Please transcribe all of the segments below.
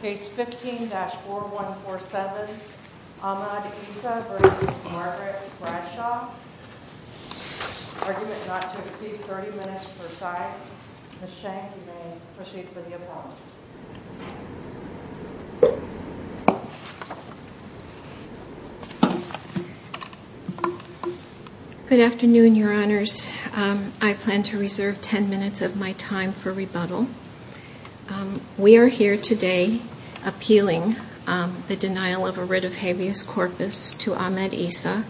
Case 15-4147, Ahmad Issa v. Margaret Bradshaw. Argument not to exceed 30 minutes per side. Ms. Schenck, you may proceed with the appellant. Good afternoon, your honors. I plan to reserve 10 minutes of my time for rebuttal. We are here today appealing the denial of a writ of habeas corpus to Ahmad Issa.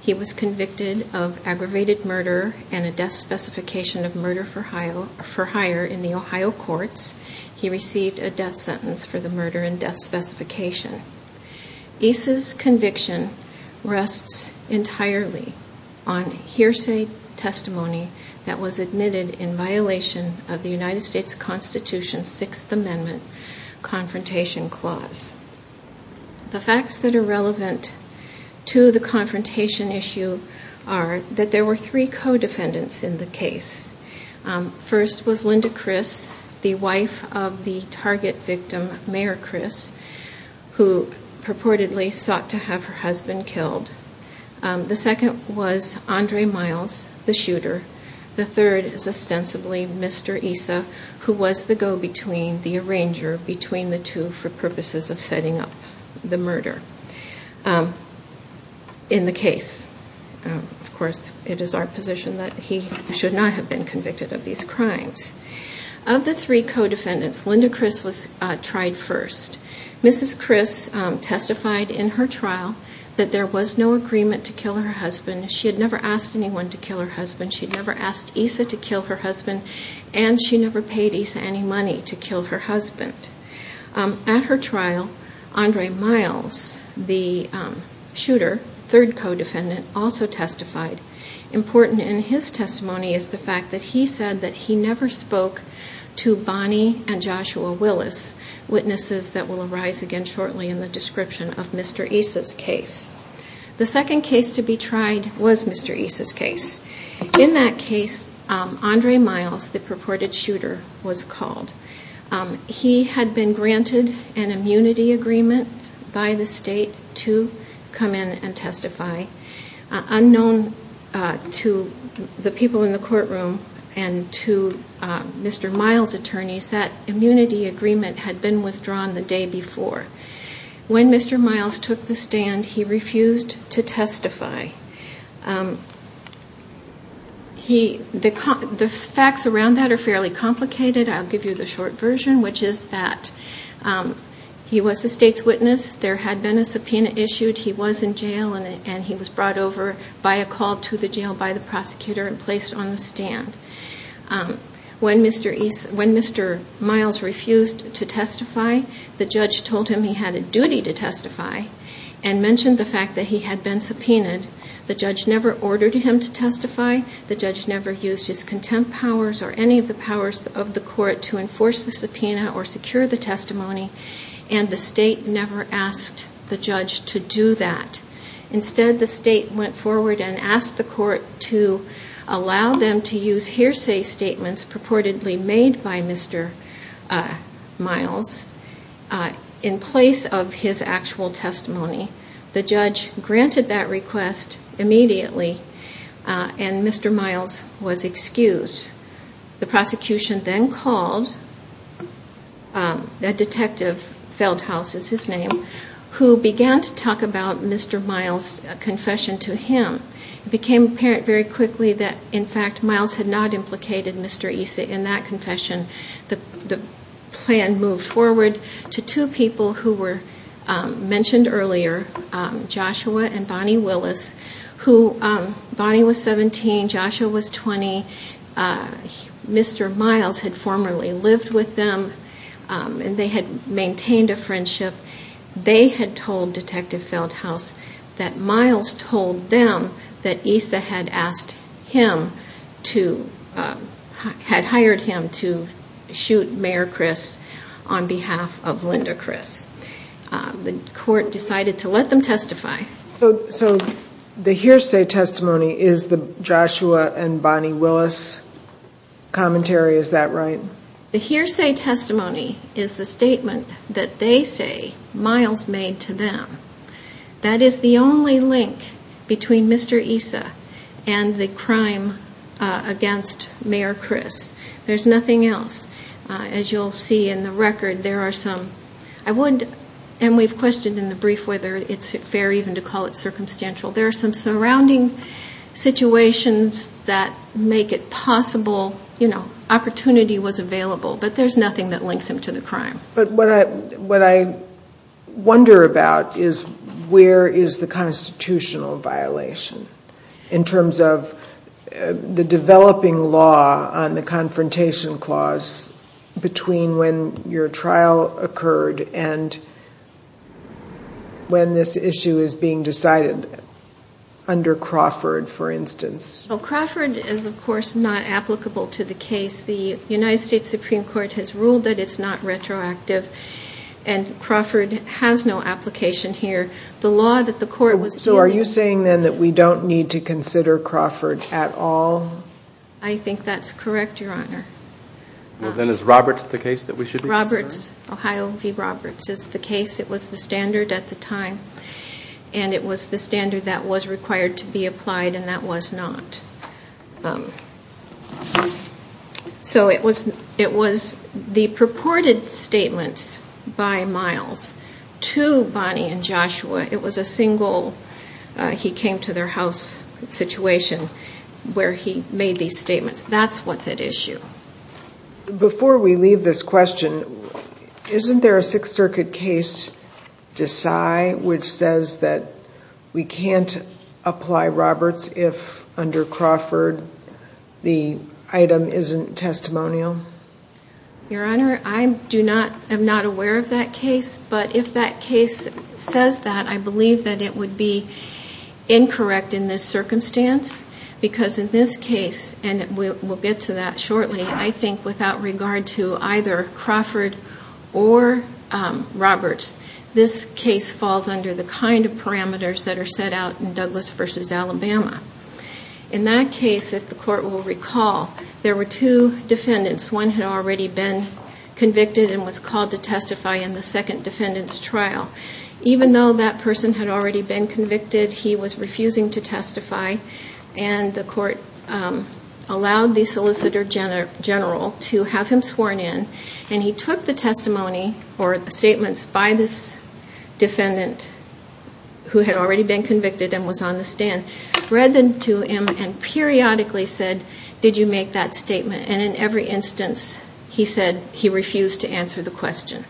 He was convicted of aggravated murder and a death specification of murder for hire in the Ohio courts. He received a death sentence for the murder and death specification. Issa's conviction rests entirely on hearsay testimony that was admitted in violation of the United States Constitution 6th Amendment Confrontation Clause. The facts that are relevant to the confrontation issue are that there were three co-defendants in the case. First was Linda Criss, the wife of the target victim, Mayor Criss, who purportedly sought to have her husband killed. The second was Andre Miles, the shooter. The third is ostensibly Mr. Issa, who was the go-between, the arranger between the two for purposes of setting up the murder in the case. Of course, it is our position that he should not have been convicted of these crimes. Of the three co-defendants, Linda Criss was tried first. Mrs. Criss testified in her trial that there was no agreement to kill her husband. She had never asked anyone to kill her husband. She had never asked Issa to kill her husband and she never paid Issa any money to kill her husband. At her trial, Andre Miles, the shooter, third co-defendant, also testified. Important in his testimony is the fact that he said that he never spoke to Bonnie and Joshua Willis, witnesses that will arise again shortly in the description of Mr. Issa's case. The second case to be tried was Mr. Issa's case. In that case, Andre Miles, the purported shooter, was called. He had been granted an immunity agreement by the state to come in and testify. Unknown to the people in the courtroom and to Mr. Miles' attorneys, that immunity agreement had been withdrawn the day before. When Mr. Miles took the stand, he refused to testify. The facts around that are fairly complicated. I'll give you the short version, which is that he was the state's witness. There had been a subpoena issued. He was in jail and he was brought over by a call to the jail by the prosecutor and placed on the stand. When Mr. Miles refused to testify, the judge told him he had a duty to testify and mentioned the fact that he had been subpoenaed. The judge never ordered him to testify. The judge never used his contempt powers or any of the powers of the court to enforce the subpoena or secure the testimony and the state never asked the judge to do that. Instead, the state went forward and asked the court to allow them to use hearsay statements purportedly made by Mr. Miles in place of his actual testimony. The judge granted that request immediately and Mr. Miles was excused. The prosecution then called a detective, Feldhaus is his name, who began to talk about Mr. Miles' confession to him. It became apparent very quickly that, in fact, Miles had not implicated Mr. Issa in that confession. The plan moved forward to two people who were mentioned earlier, Joshua and Bonnie Willis. Bonnie was 17, Joshua was 20. Mr. Miles had formerly lived with them and they had maintained a friendship. They had told Detective Feldhaus that Miles told them that Issa had hired him to shoot Mayor Chris on behalf of Linda Chris. The court decided to let them testify. So the hearsay testimony is the Joshua and Bonnie Willis commentary, is that right? The hearsay testimony is the statement that they say Miles made to them. That is the only link between Mr. Issa and the crime against Mayor Chris. There's nothing else. As you'll see in the record, there are some, I would, and we've questioned in the brief whether it's fair even to call it circumstantial, there are some surrounding situations that make it possible, you know, opportunity was available, but there's nothing that links him to the crime. But what I wonder about is where is the constitutional violation in terms of the developing law on the confrontation clause between when your trial occurred and when this issue is being decided under Crawford, for instance? Crawford is, of course, not applicable to the case. The United States Supreme Court has ruled that it's not retroactive and Crawford has no application here. The law that the court was dealing with. So are you saying then that we don't need to consider Crawford at all? I think that's correct, Your Honor. Then is Roberts the case that we should be considering? So it was the purported statements by Miles to Bonnie and Joshua, it was a single he came to their house situation where he made these statements. That's what's at issue. Before we leave this question, isn't there a Sixth Circuit case, Desai, which says that we can't apply Roberts if under Crawford the item isn't testimonial? Your Honor, I am not aware of that case, but if that case says that, I believe that it would be incorrect in this circumstance. Because in this case, and we'll get to that shortly, I think without regard to either Crawford or Roberts, this case falls under the kind of parameters that are set out in Douglas v. Alabama. In that case, if the court will recall, there were two defendants. One had already been convicted and was called to testify in the second defendant's trial. Even though that person had already been convicted, he was refusing to testify and the court allowed the solicitor general to have him sworn in. And he took the testimony or statements by this defendant who had already been convicted and was on the stand, read them to him and periodically said, did you make that statement? And in every instance, he said he refused to answer the question.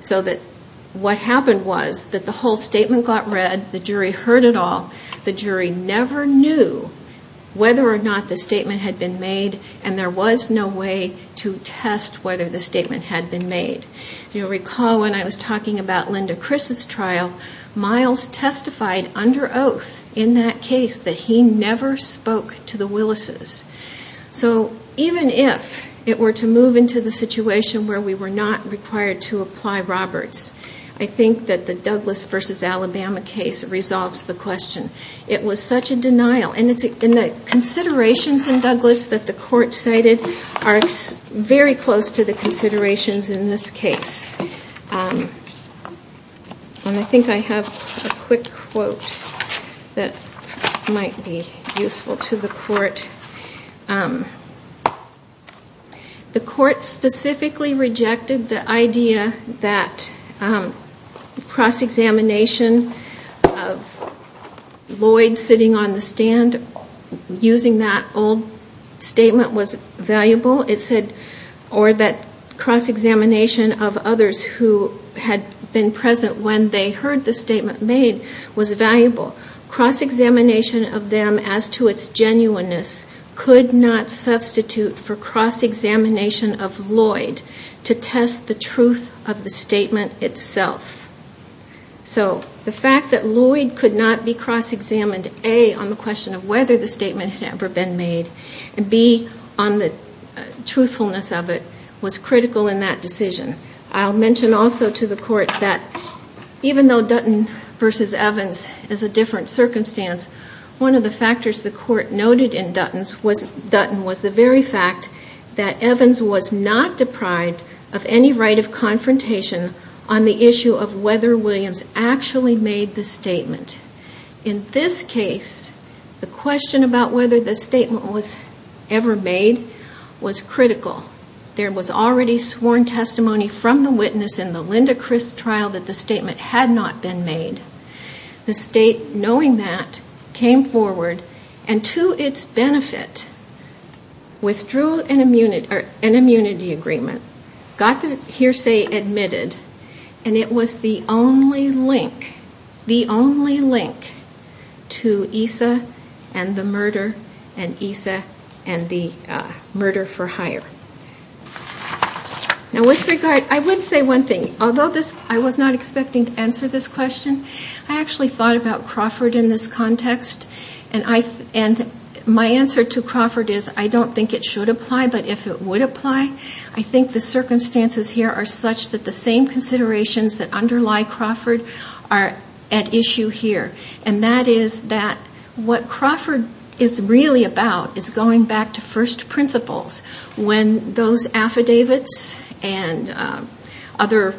So that what happened was that the whole statement got read, the jury heard it all, the jury never knew whether or not the statement had been made and there was no way to test whether the statement had been made. You'll recall when I was talking about Linda Chris's trial, Miles testified under oath in that case that he never spoke to the Willises. So even if it were to move into the situation where we were not required to apply Roberts, I think that the Douglas v. Alabama case resolves the question. It was such a denial and the considerations in Douglas that the court cited are very close to the considerations in this case. And I think I have a quick quote that might be useful to the court. The court specifically rejected the idea that cross-examination of Lloyd sitting on the stand using that old statement was valuable. It said, or that cross-examination of others who had been present when they heard the statement made was valuable. Cross-examination of them as to its genuineness could not substitute for cross-examination of Lloyd to test the truth of the statement itself. So the fact that Lloyd could not be cross-examined, A, on the question of whether the statement had ever been made, and B, on the truthfulness of it, was critical in that decision. I'll mention also to the court that even though Dutton v. Evans is a different circumstance, one of the factors the court noted in Dutton was the very fact that Evans was not deprived of any right of confrontation on the issue of whether Williams actually made the statement. In this case, the question about whether the statement was ever made was critical. There was already sworn testimony from the witness in the Linda Crist trial that the statement had not been made. The state, knowing that, came forward and to its benefit withdrew an immunity agreement, got the hearsay admitted, and it was the only link to ESA and the murder for hire. Now with regard, I would say one thing. Although I was not expecting to answer this question, I actually thought about Crawford in this context, and my answer to Crawford is I don't think it should apply, but if it would apply, I think the circumstances here are such that the same considerations that underlie Crawford are at issue here. And that is that what Crawford is really about is going back to first principles when those affidavits and other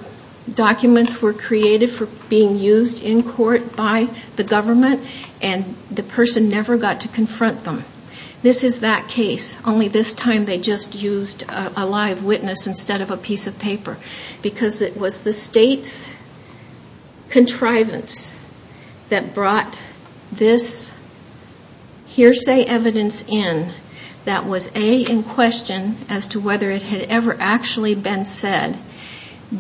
documents were created for being used in court by the government and the person never got to confront them. This is that case, only this time they just used a live witness instead of a piece of paper, because it was the state's contrivance that brought this hearsay evidence in that was A, in question as to whether it had ever actually been said,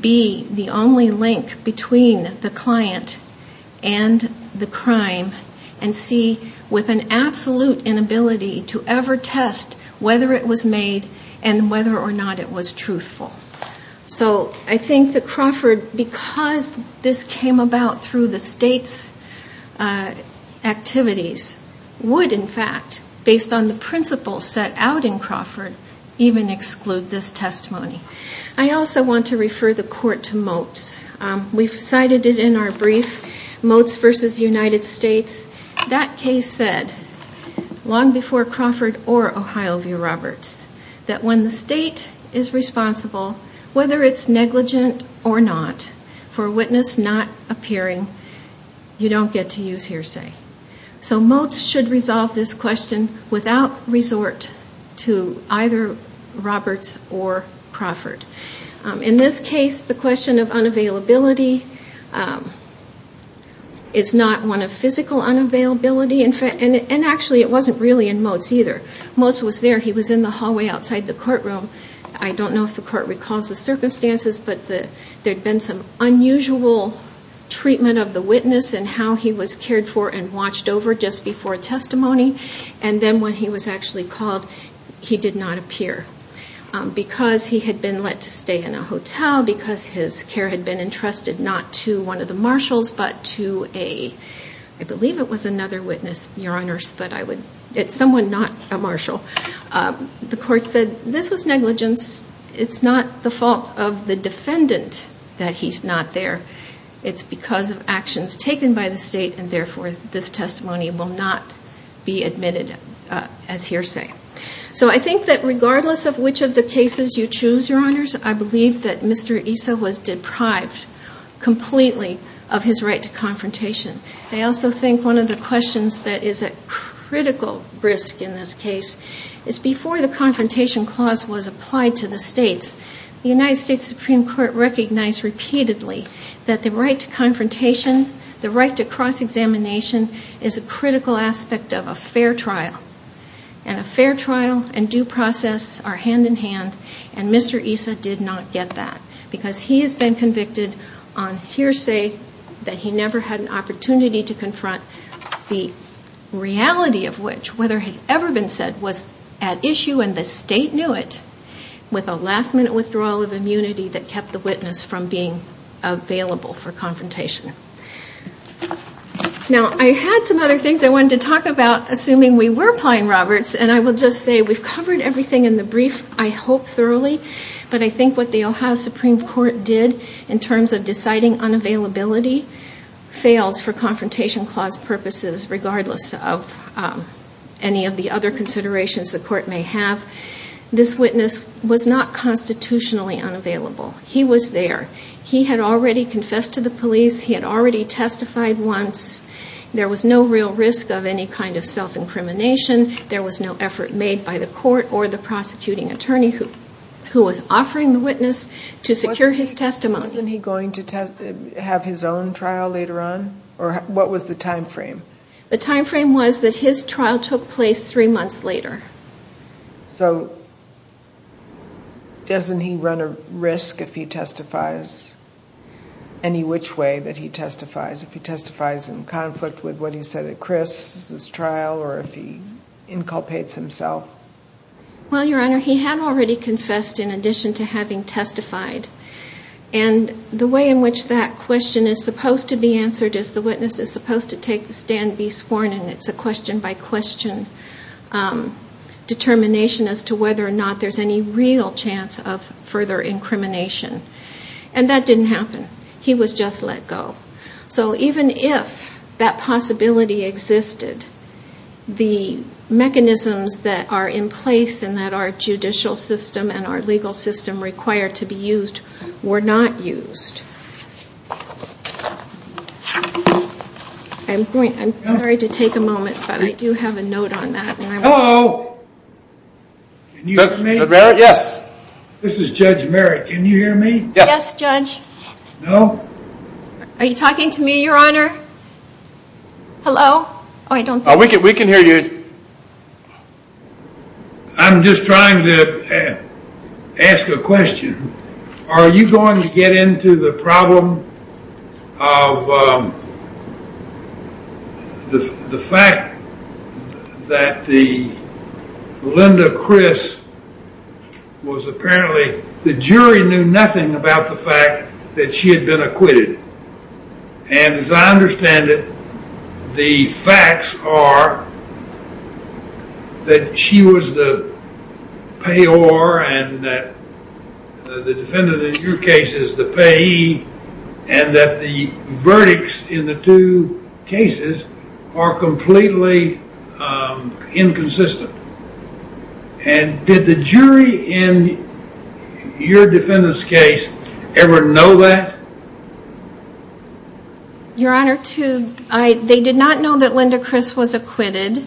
B, the only link between the client and the crime, and C, with an absolute inability to ever test whether it was made and whether or not it was truthful. So I think that Crawford, because this came about through the state's activities, would in fact, based on the principles set out in Crawford, even exclude this testimony. I also want to refer the court to Motes. We've cited it in our brief, Motes v. United States. That case said, long before Crawford or Ohio v. Roberts, that when the state is responsible, whether it's negligent or not, for a witness not appearing, you don't get to use hearsay. So Motes should resolve this question without resort to either Roberts or Crawford. In this case, the question of unavailability is not one of physical unavailability, and actually it wasn't really in Motes either. Motes was there. He was in the hallway outside the courtroom. I don't know if the court recalls the circumstances, but there had been some unusual treatment of the witness and how he was cared for and watched over just before testimony. And then when he was actually called, he did not appear. Because he had been let to stay in a hotel, because his care had been entrusted not to one of the marshals, but to a, I believe it was another witness, your honors, but it's someone not a marshal. The court said this was negligence. It's not the fault of the defendant that he's not there. It's because of actions taken by the state and therefore this testimony will not be admitted as hearsay. So I think that regardless of which of the cases you choose, your honors, I believe that Mr. Issa was deprived completely of his right to confrontation. I also think one of the questions that is a critical risk in this case is before the confrontation clause was applied to the states, the United States Supreme Court recognized repeatedly that the right to confrontation, the right to cross-examination, is a critical aspect of a fair trial. And a fair trial and due process are hand-in-hand and Mr. Issa did not get that because he has been convicted on hearsay that he never had an opportunity to confront the reality of which, whether it had ever been said, was at issue and the state knew it with a last-minute withdrawal of immunity that kept the witness from being available for confrontation. Now I had some other things I wanted to talk about assuming we were applying Roberts and I will just say we've covered everything in the brief, I hope thoroughly, but I think what the Ohio Supreme Court did in terms of deciding unavailability fails for confrontation clause purposes regardless of any of the other considerations the court may have. This witness was not constitutionally unavailable. He was there. He had already confessed to the police. He had already testified once. There was no real risk of any kind of self-incrimination. There was no effort made by the court or the prosecuting attorney who was offering the witness to secure his testimony. Wasn't he going to have his own trial later on? Or what was the time frame? The time frame was that his trial took place three months later. So doesn't he run a risk if he testifies any which way that he testifies? If he testifies in conflict with what he said at Chris' trial or if he inculpates himself? Well, Your Honor, he had already confessed in addition to having testified. And the way in which that question is supposed to be answered is the witness is supposed to take the stand and be sworn in. It's a question by question determination as to whether or not there's any real chance of further incrimination. And that didn't happen. He was just let go. So even if that possibility existed, the mechanisms that are in place and that our judicial system and our legal system require to be used were not used. I'm sorry to take a moment, but I do have a note on that. Hello? Can you hear me? Yes. This is Judge Merritt. Can you hear me? Yes, Judge. No. Are you talking to me, Your Honor? Hello? We can hear you. I'm just trying to ask a question. Are you going to get into the problem of the fact that the Linda Chris was apparently, the jury knew nothing about the fact that she had been acquitted. And as I understand it, the facts are that she was the payor and the defendant in your case is the payee and that the verdicts in the two cases are completely inconsistent. And did the jury in your defendant's case ever know that? Your Honor, they did not know that Linda Chris was acquitted.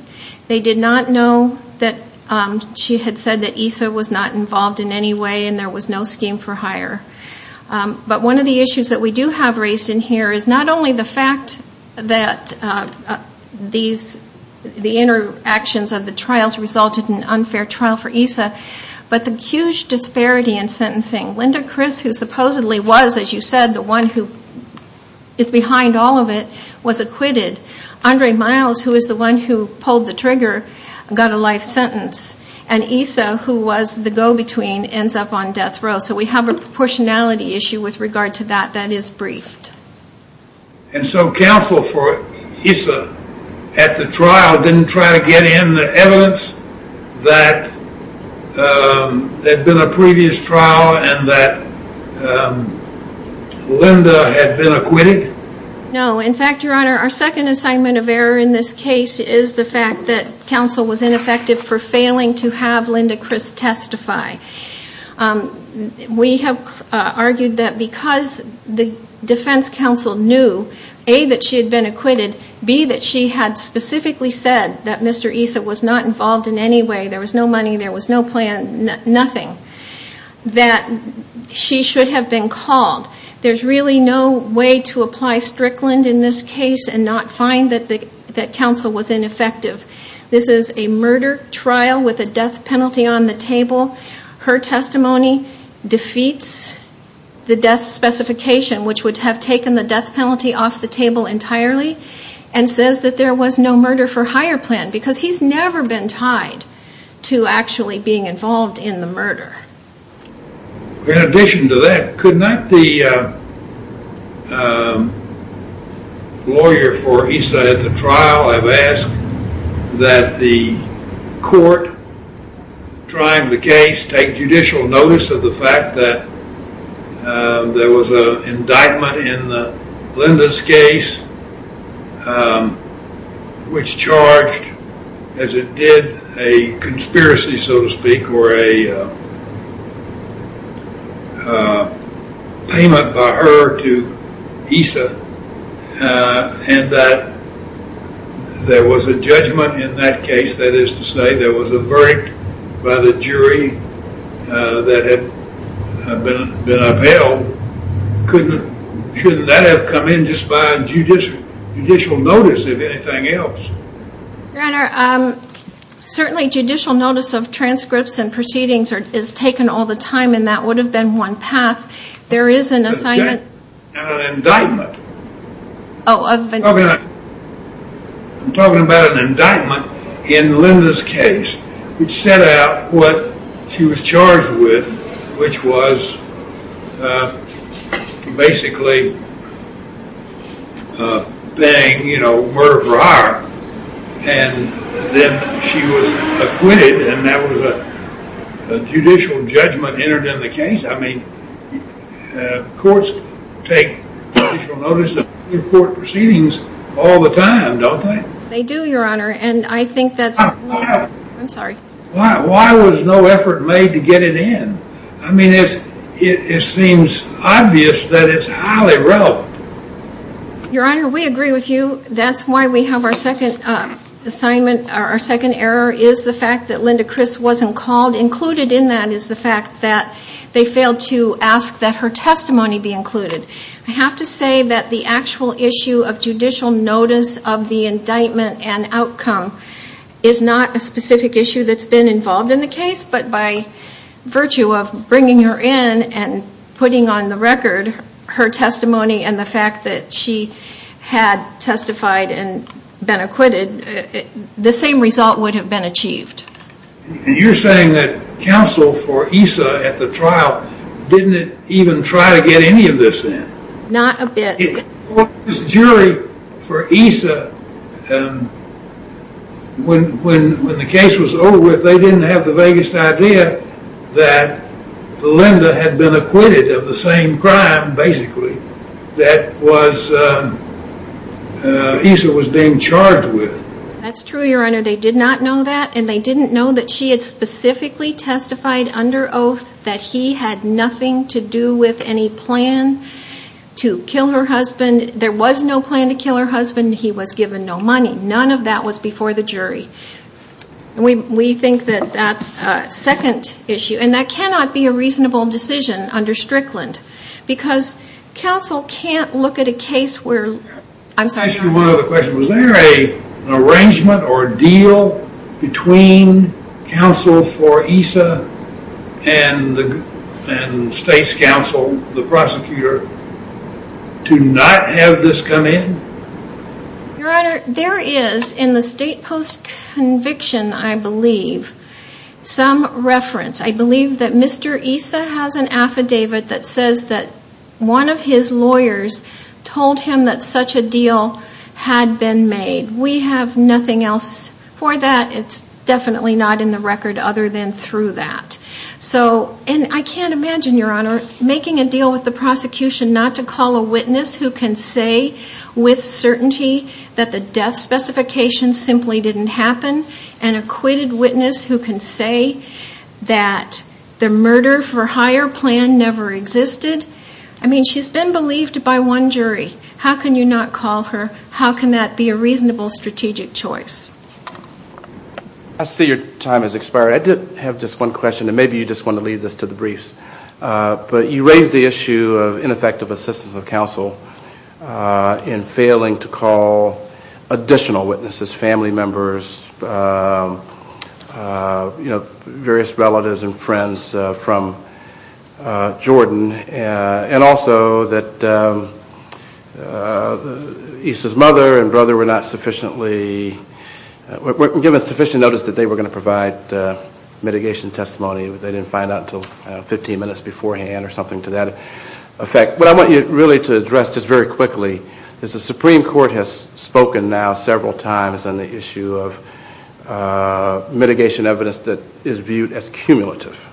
They did not know that she had said that ESA was not involved in any way and there was no scheme for hire. But one of the issues that we do have raised in here is not only the fact that the interactions of the trials resulted in an unfair trial for ESA, but the huge disparity in sentencing. Linda Chris, who supposedly was, as you said, the one who is behind all of it, was acquitted. Andre Miles, who is the one who pulled the trigger, got a life sentence. And ESA, who was the go-between, ends up on death row. So we have a proportionality issue with regard to that that is briefed. And so counsel for ESA at the trial didn't try to get in the evidence that there had been a previous trial and that Linda had been acquitted? No. In fact, Your Honor, our second assignment of error in this case is the fact that counsel was ineffective for failing to have Linda Chris testify. We have argued that because the defense counsel knew, A, that she had been acquitted, B, that she had specifically said that Mr. ESA was not involved in any way, there was no money, there was no plan, nothing, that she should have been called. There's really no way to apply Strickland in this case and not find that counsel was ineffective. This is a murder trial with a death penalty on the table. Her testimony defeats the death specification, which would have taken the death penalty off the table entirely, and says that there was no murder for hire plan because he's never been tied to actually being involved in the murder. In addition to that, could not the lawyer for ESA at the trial have asked that the court trying the case take judicial notice of the fact that there was an indictment in Linda's case, which charged, as it did, a conspiracy, so to speak, or a payment by her to ESA, and that there was a judgment in that case, that is to say, there was a verdict by the jury that had been upheld. Couldn't that have come in just by judicial notice, if anything else? Your Honor, certainly judicial notice of transcripts and proceedings is taken all the time, and that would have been one path. An indictment. I'm talking about an indictment in Linda's case, which set out what she was charged with, which was basically, bang, murder for hire, and then she was acquitted, and that was a judicial judgment entered in the case. I mean, courts take judicial notice of court proceedings all the time, don't they? They do, Your Honor, and I think that's... I'm sorry. Why was no effort made to get it in? I mean, it seems obvious that it's highly relevant. Your Honor, we agree with you. That's why we have our second assignment, or our second error, is the fact that Linda Criss wasn't called. Included in that is the fact that they failed to ask that her testimony be included. I have to say that the actual issue of judicial notice of the indictment and outcome is not a specific issue that's been involved in the case, but by virtue of bringing her in and putting on the record her testimony and the fact that she had testified and been acquitted, the same result would have been achieved. And you're saying that counsel for ESA at the trial didn't even try to get any of this in? Not a bit. The jury for ESA, when the case was over, they didn't have the vaguest idea that Linda had been acquitted of the same crime, basically, that ESA was being charged with. That's true, Your Honor. They did not know that, and they didn't know that she had specifically testified under oath that he had nothing to do with any plan to kill her husband. There was no plan to kill her husband. He was given no money. None of that was before the jury. We think that that second issue, and that cannot be a reasonable decision under Strickland, because counsel can't look at a case where... and state's counsel, the prosecutor, do not have this come in? Your Honor, there is, in the state post-conviction, I believe, some reference. I believe that Mr. ESA has an affidavit that says that one of his lawyers told him that such a deal had been made. We have nothing else for that. It's definitely not in the record other than through that. And I can't imagine, Your Honor, making a deal with the prosecution not to call a witness who can say with certainty that the death specification simply didn't happen, an acquitted witness who can say that the murder-for-hire plan never existed. I mean, she's been believed by one jury. How can you not call her? How can that be a reasonable strategic choice? I see your time has expired. I did have just one question, and maybe you just want to leave this to the briefs. But you raised the issue of ineffective assistance of counsel in failing to call additional witnesses, family members, you know, various relatives and friends from Jordan, and also that ESA's mother and brother were not sufficiently... mitigation testimony. They didn't find out until 15 minutes beforehand or something to that effect. What I want you really to address just very quickly is the Supreme Court has spoken now several times on the issue of mitigation evidence that is viewed as cumulative.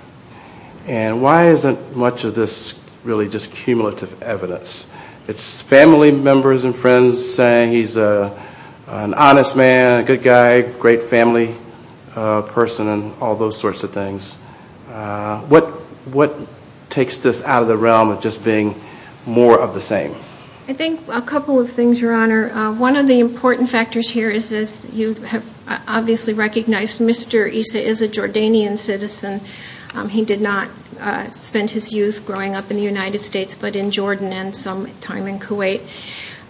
And why isn't much of this really just cumulative evidence? It's family members and friends saying he's an honest man, a good guy, a great family person, and all those sorts of things. What takes this out of the realm of just being more of the same? I think a couple of things, Your Honor. One of the important factors here is, as you have obviously recognized, Mr. ESA is a Jordanian citizen. He did not spend his youth growing up in the United States but in Jordan and some time in Kuwait.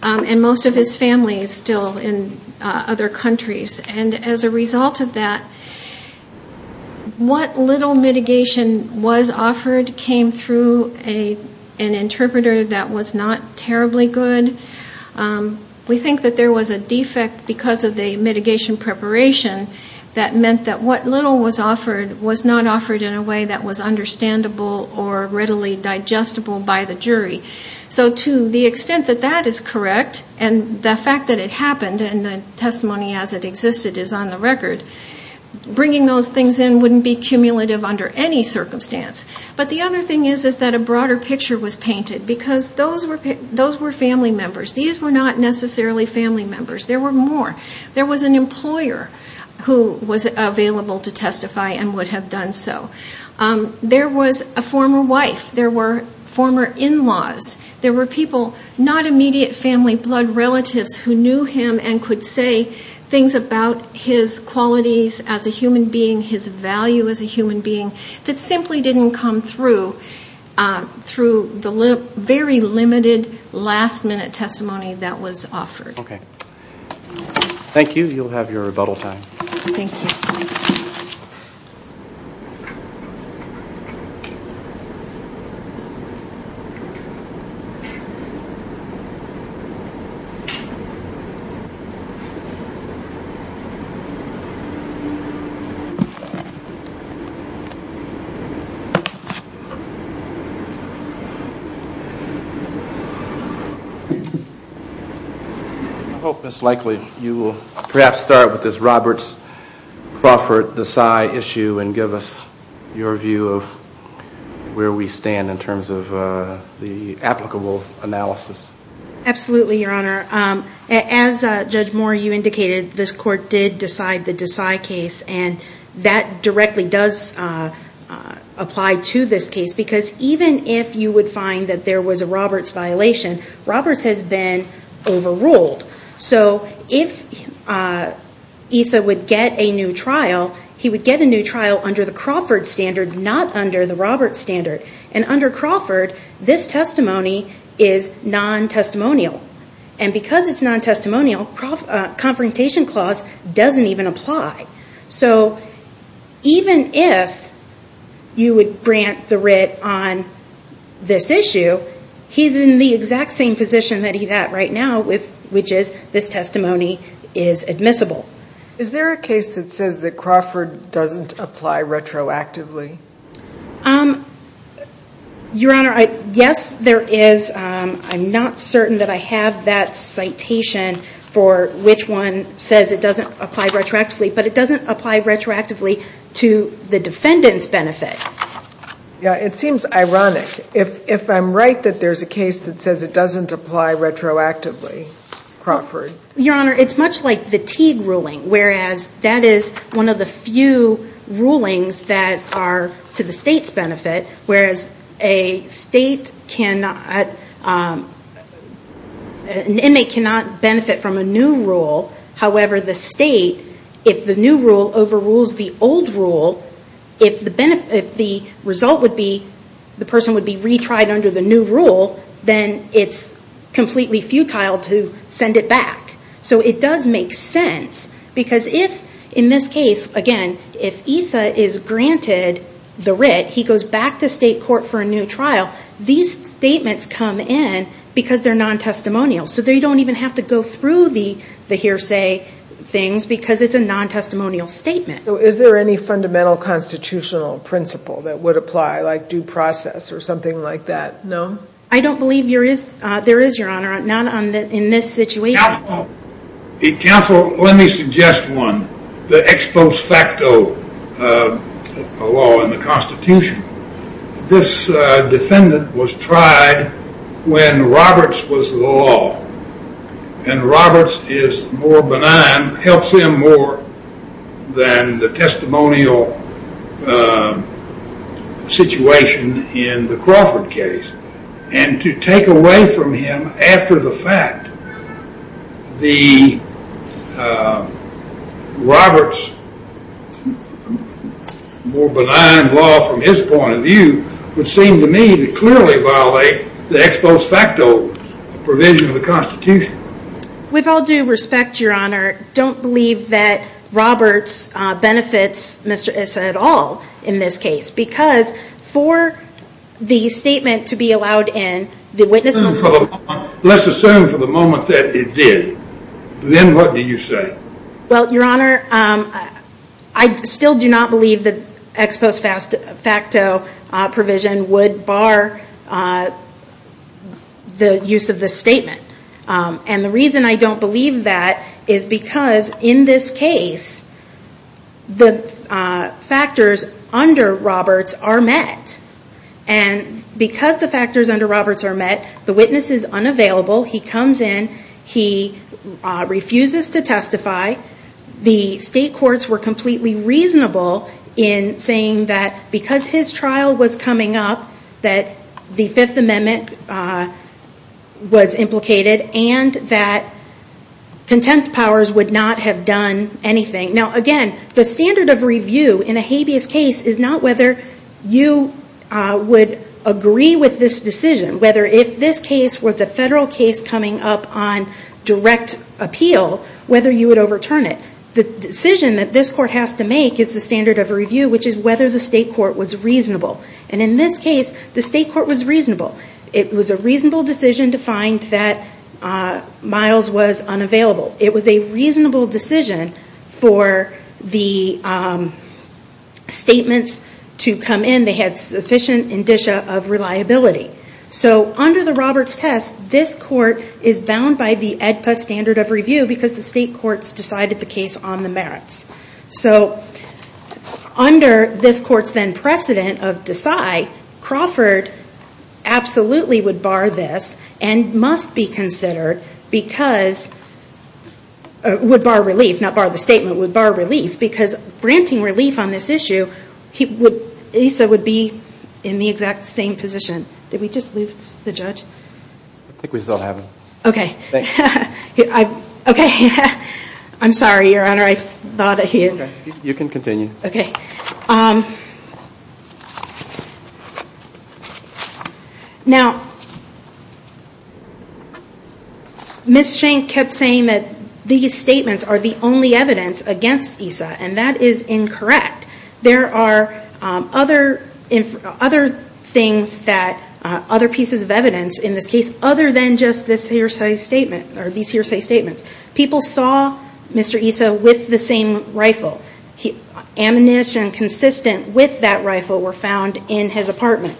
And most of his family is still in other countries. And as a result of that, what little mitigation was offered came through an interpreter that was not terribly good. We think that there was a defect because of the mitigation preparation that meant that what little was offered was not offered in a way that was understandable or readily digestible by the jury. So to the extent that that is correct and the fact that it happened and the testimony as it existed is on the record, bringing those things in wouldn't be cumulative under any circumstance. But the other thing is that a broader picture was painted because those were family members. These were not necessarily family members. There were more. There was an employer who was available to testify and would have done so. There was a former wife. There were former in-laws. There were people, not immediate family, blood relatives who knew him and could say things about his qualities as a human being, his value as a human being, that simply didn't come through the very limited last-minute testimony that was offered. Thank you. You'll have your rebuttal time. I hope, Ms. Likely, you will perhaps start with this Roberts-Crawford-Desai issue and give us your view of where we stand in terms of the applicable analysis. Absolutely, Your Honor. As Judge Moore, you indicated, this Court did decide the Desai case, and that directly does apply to this case because even if you would find that there was a Roberts violation, Roberts has been overruled. So if ESA would get a new trial, he would get a new trial under the Crawford standard, not under the Roberts standard. And under Crawford, this testimony is non-testimonial. And because it's non-testimonial, the Confrontation Clause doesn't even apply. So even if you would grant the writ on this issue, he's in the exact same position that he's at right now, which is this testimony is admissible. Is there a case that says that Crawford doesn't apply retroactively? Your Honor, yes, there is. I'm not certain that I have that citation for which one says it doesn't apply retroactively, but it doesn't apply retroactively to the defendant's benefit. It seems ironic. If I'm right that there's a case that says it doesn't apply retroactively, Crawford. Your Honor, it's much like the Teague ruling, whereas that is one of the few rulings that are to the State's benefit, whereas an inmate cannot benefit from a new rule. However, the State, if the new rule overrules the old rule, if the result would be the person would be retried under the new rule, then it's completely futile to send it back. So it does make sense. Because if, in this case, again, if ESA is granted the writ, he goes back to State court for a new trial, these statements come in because they're non-testimonial. So they don't even have to go through the hearsay things because it's a non-testimonial statement. So is there any fundamental constitutional principle that would apply, like due process or something like that? I don't believe there is, Your Honor, not in this situation. Counsel, let me suggest one. The ex post facto law in the Constitution. This defendant was tried when Roberts was the law. And Roberts is more benign, helps him more than the testimonial situation in the Crawford case. And to take away from him, after the fact, the Roberts, more benign law from his point of view, would seem to me to clearly violate the ex post facto provision of the Constitution. With all due respect, Your Honor, don't believe that Roberts benefits Mr. ESA at all in this case. Because for the statement to be allowed in, let's assume for the moment that it did. Then what do you say? Well, Your Honor, I still do not believe that ex post facto provision would bar the use of this statement. And the reason I don't believe that is because in this case, the factors under Roberts are met. And because the factors under Roberts are met, the witness is unavailable. He comes in. He refuses to testify. The state courts were completely reasonable in saying that because his trial was coming up, that the Fifth Amendment was implicated and that contempt powers would not have done anything. Now, again, the standard of review in a habeas case is not whether you would agree with this decision, whether if this case was a federal case coming up on direct appeal, whether you would overturn it. The decision that this court has to make is the standard of review, which is whether the state court was reasonable. And in this case, the state court was reasonable. It was a reasonable decision to find that Miles was unavailable. It was a reasonable decision for the statements to come in. They had sufficient indicia of reliability. So under the Roberts test, this court is bound by the AEDPA standard of review because the state courts decided the case on the merits. So under this court's then precedent of decide, Crawford absolutely would bar this and must be considered because, would bar relief, not bar the statement, would bar relief because granting relief on this issue, he would, ASA would be in the exact same position. Did we just lose the judge? I think we still have him. Okay. Thanks. Okay. I'm sorry, Your Honor. I thought he had. You can continue. Okay. Now, Ms. Shank kept saying that these statements are the only evidence against ESA, and that is incorrect. There are other things that, other pieces of evidence in this case, other than just this hearsay statement or these hearsay statements. People saw Mr. ESA with the same rifle. Ammunition consistent with that rifle were found in his apartment.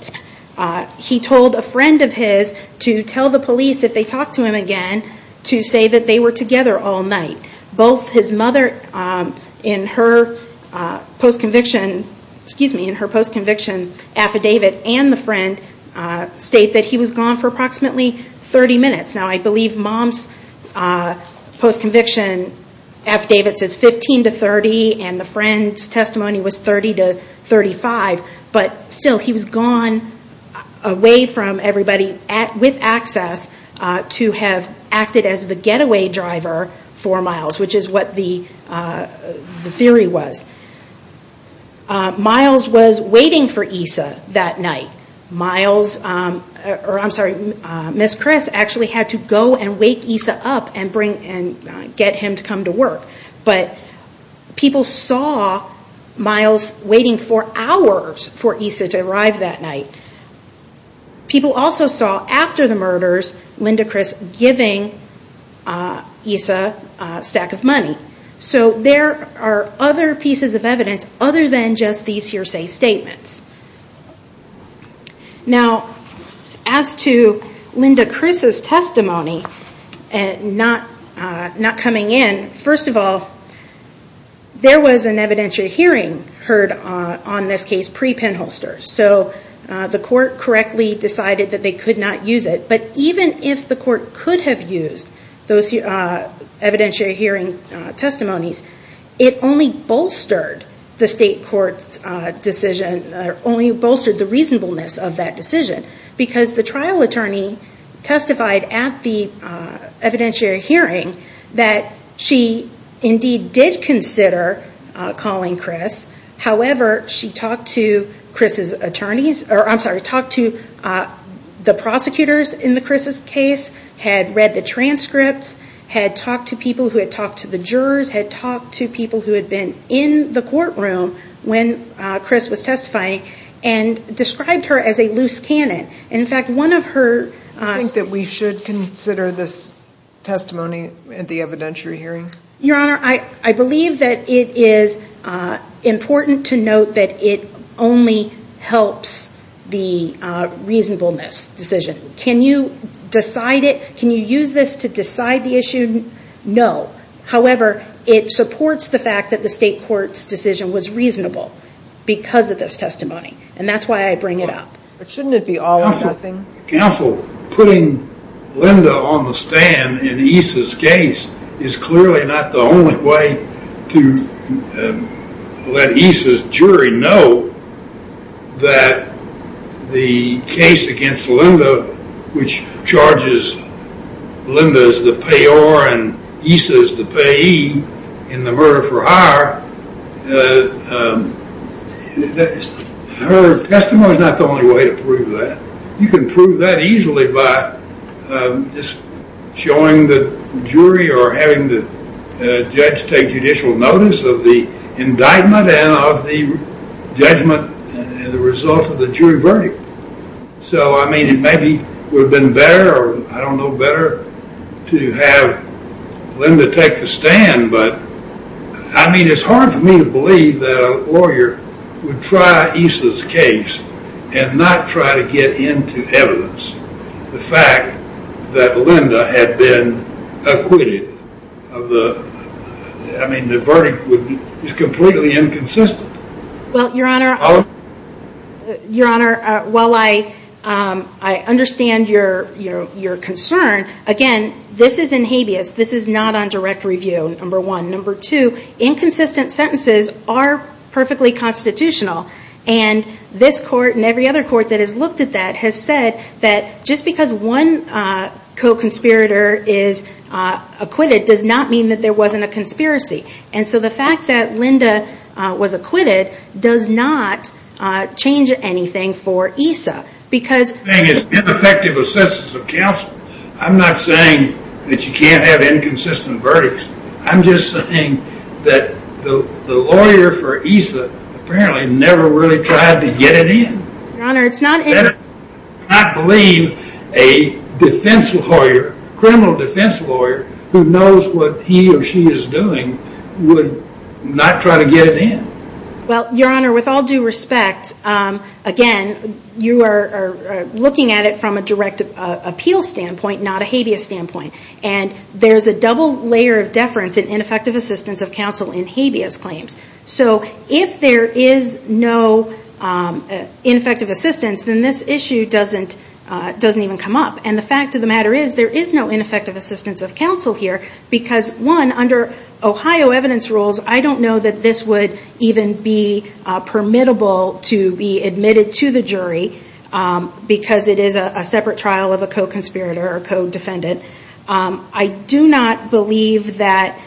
He told a friend of his to tell the police, if they talked to him again, to say that they were together all night. Both his mother in her post-conviction affidavit and the friend state that he was gone for approximately 30 minutes. Now, I believe mom's post-conviction affidavit says 15 to 30, and the friend's testimony was 30 to 35, but still he was gone away from everybody with access to have acted as the getaway driver for Miles, which is what the theory was. Miles was waiting for ESA that night. Miles, or I'm sorry, Ms. Chris actually had to go and wake ESA up and get him to come to work, but people saw Miles waiting for hours for ESA to arrive that night. People also saw, after the murders, Linda Chris giving ESA a stack of money. So there are other pieces of evidence other than just these hearsay statements. Now, as to Linda Chris's testimony not coming in, first of all, there was an evidentiary hearing heard on this case pre-Penholster. So the court correctly decided that they could not use it, but even if the court could have used those evidentiary hearing testimonies, it only bolstered the state court's decision, only bolstered the reasonableness of that decision, because the trial attorney testified at the evidentiary hearing that she indeed did consider calling Chris. However, she talked to Chris's attorneys, or I'm sorry, talked to the prosecutors in Chris's case, had read the transcripts, had talked to people who had talked to the jurors, had talked to people who had been in the courtroom when Chris was testifying, and described her as a loose cannon. In fact, one of her – Do you think that we should consider this testimony at the evidentiary hearing? Your Honor, I believe that it is important to note that it only helps the reasonableness decision. Can you decide it? Can you use this to decide the issue? No. However, it supports the fact that the state court's decision was reasonable because of this testimony, and that's why I bring it up. But shouldn't it be all or nothing? Counsel, putting Linda on the stand in Issa's case is clearly not the only way to let Issa's jury know that the case against Linda, which charges Linda as the payor and Issa as the payee in the murder for hire, her testimony is not the only way to prove that. You can prove that easily by just showing the jury or having the judge take judicial notice of the indictment and of the judgment as a result of the jury verdict. So, I mean, it maybe would have been better, I don't know, better to have Linda take the stand, but I mean, it's hard for me to believe that a lawyer would try Issa's case and not try to get into evidence. The fact that Linda had been acquitted, I mean, the verdict is completely inconsistent. Well, Your Honor, while I understand your concern, again, this is in habeas. This is not on direct review, number one. Number two, inconsistent sentences are perfectly constitutional, and this court and every other court that has looked at that has said that just because one co-conspirator is acquitted does not mean that there wasn't a conspiracy. And so the fact that Linda was acquitted does not change anything for Issa. It's ineffective assistance of counsel. I'm not saying that you can't have inconsistent verdicts. I'm just saying that the lawyer for Issa apparently never really tried to get it in. Your Honor, it's not in. You better not believe a defense lawyer, criminal defense lawyer, who knows what he or she is doing would not try to get it in. Well, Your Honor, with all due respect, again, you are looking at it from a direct appeal standpoint, not a habeas standpoint. And there's a double layer of deference in ineffective assistance of counsel in habeas claims. So if there is no ineffective assistance, then this issue doesn't even come up. And the fact of the matter is there is no ineffective assistance of counsel here because, one, under Ohio evidence rules, I don't know that this would even be permittable to be admitted to the jury because it is a separate trial of a co-conspirator or co-defendant. I do not believe that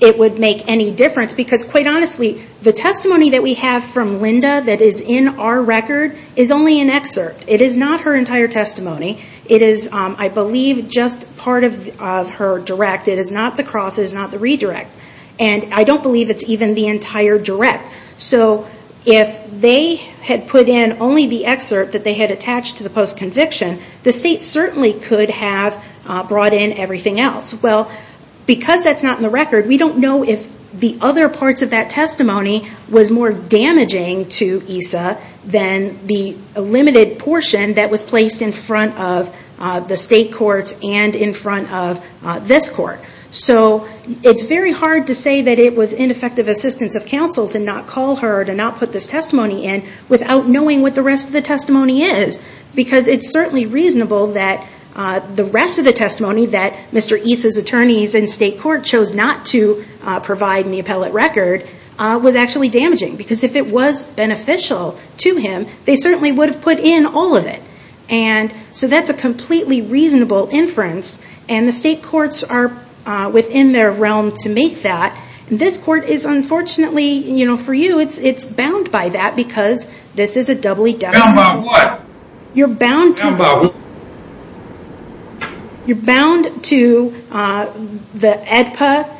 it would make any difference because, quite honestly, the testimony that we have from Linda that is in our record is only an excerpt. It is not her entire testimony. It is, I believe, just part of her direct. It is not the cross. It is not the redirect. And I don't believe it's even the entire direct. So if they had put in only the excerpt that they had attached to the post-conviction, the state certainly could have brought in everything else. Well, because that's not in the record, we don't know if the other parts of that testimony was more damaging to EISA than the limited portion that was placed in front of the state courts and in front of this court. So it's very hard to say that it was ineffective assistance of counsel to not call her, to not put this testimony in without knowing what the rest of the testimony is because it's certainly reasonable that the rest of the testimony that Mr. Eisa's attorneys and state court chose not to provide in the appellate record was actually damaging because if it was beneficial to him, they certainly would have put in all of it. And so that's a completely reasonable inference. And the state courts are within their realm to make that. This court is unfortunately, for you, it's bound by that because this is a doubly deference. Bound by what? You're bound to... Bound by what? You're bound to the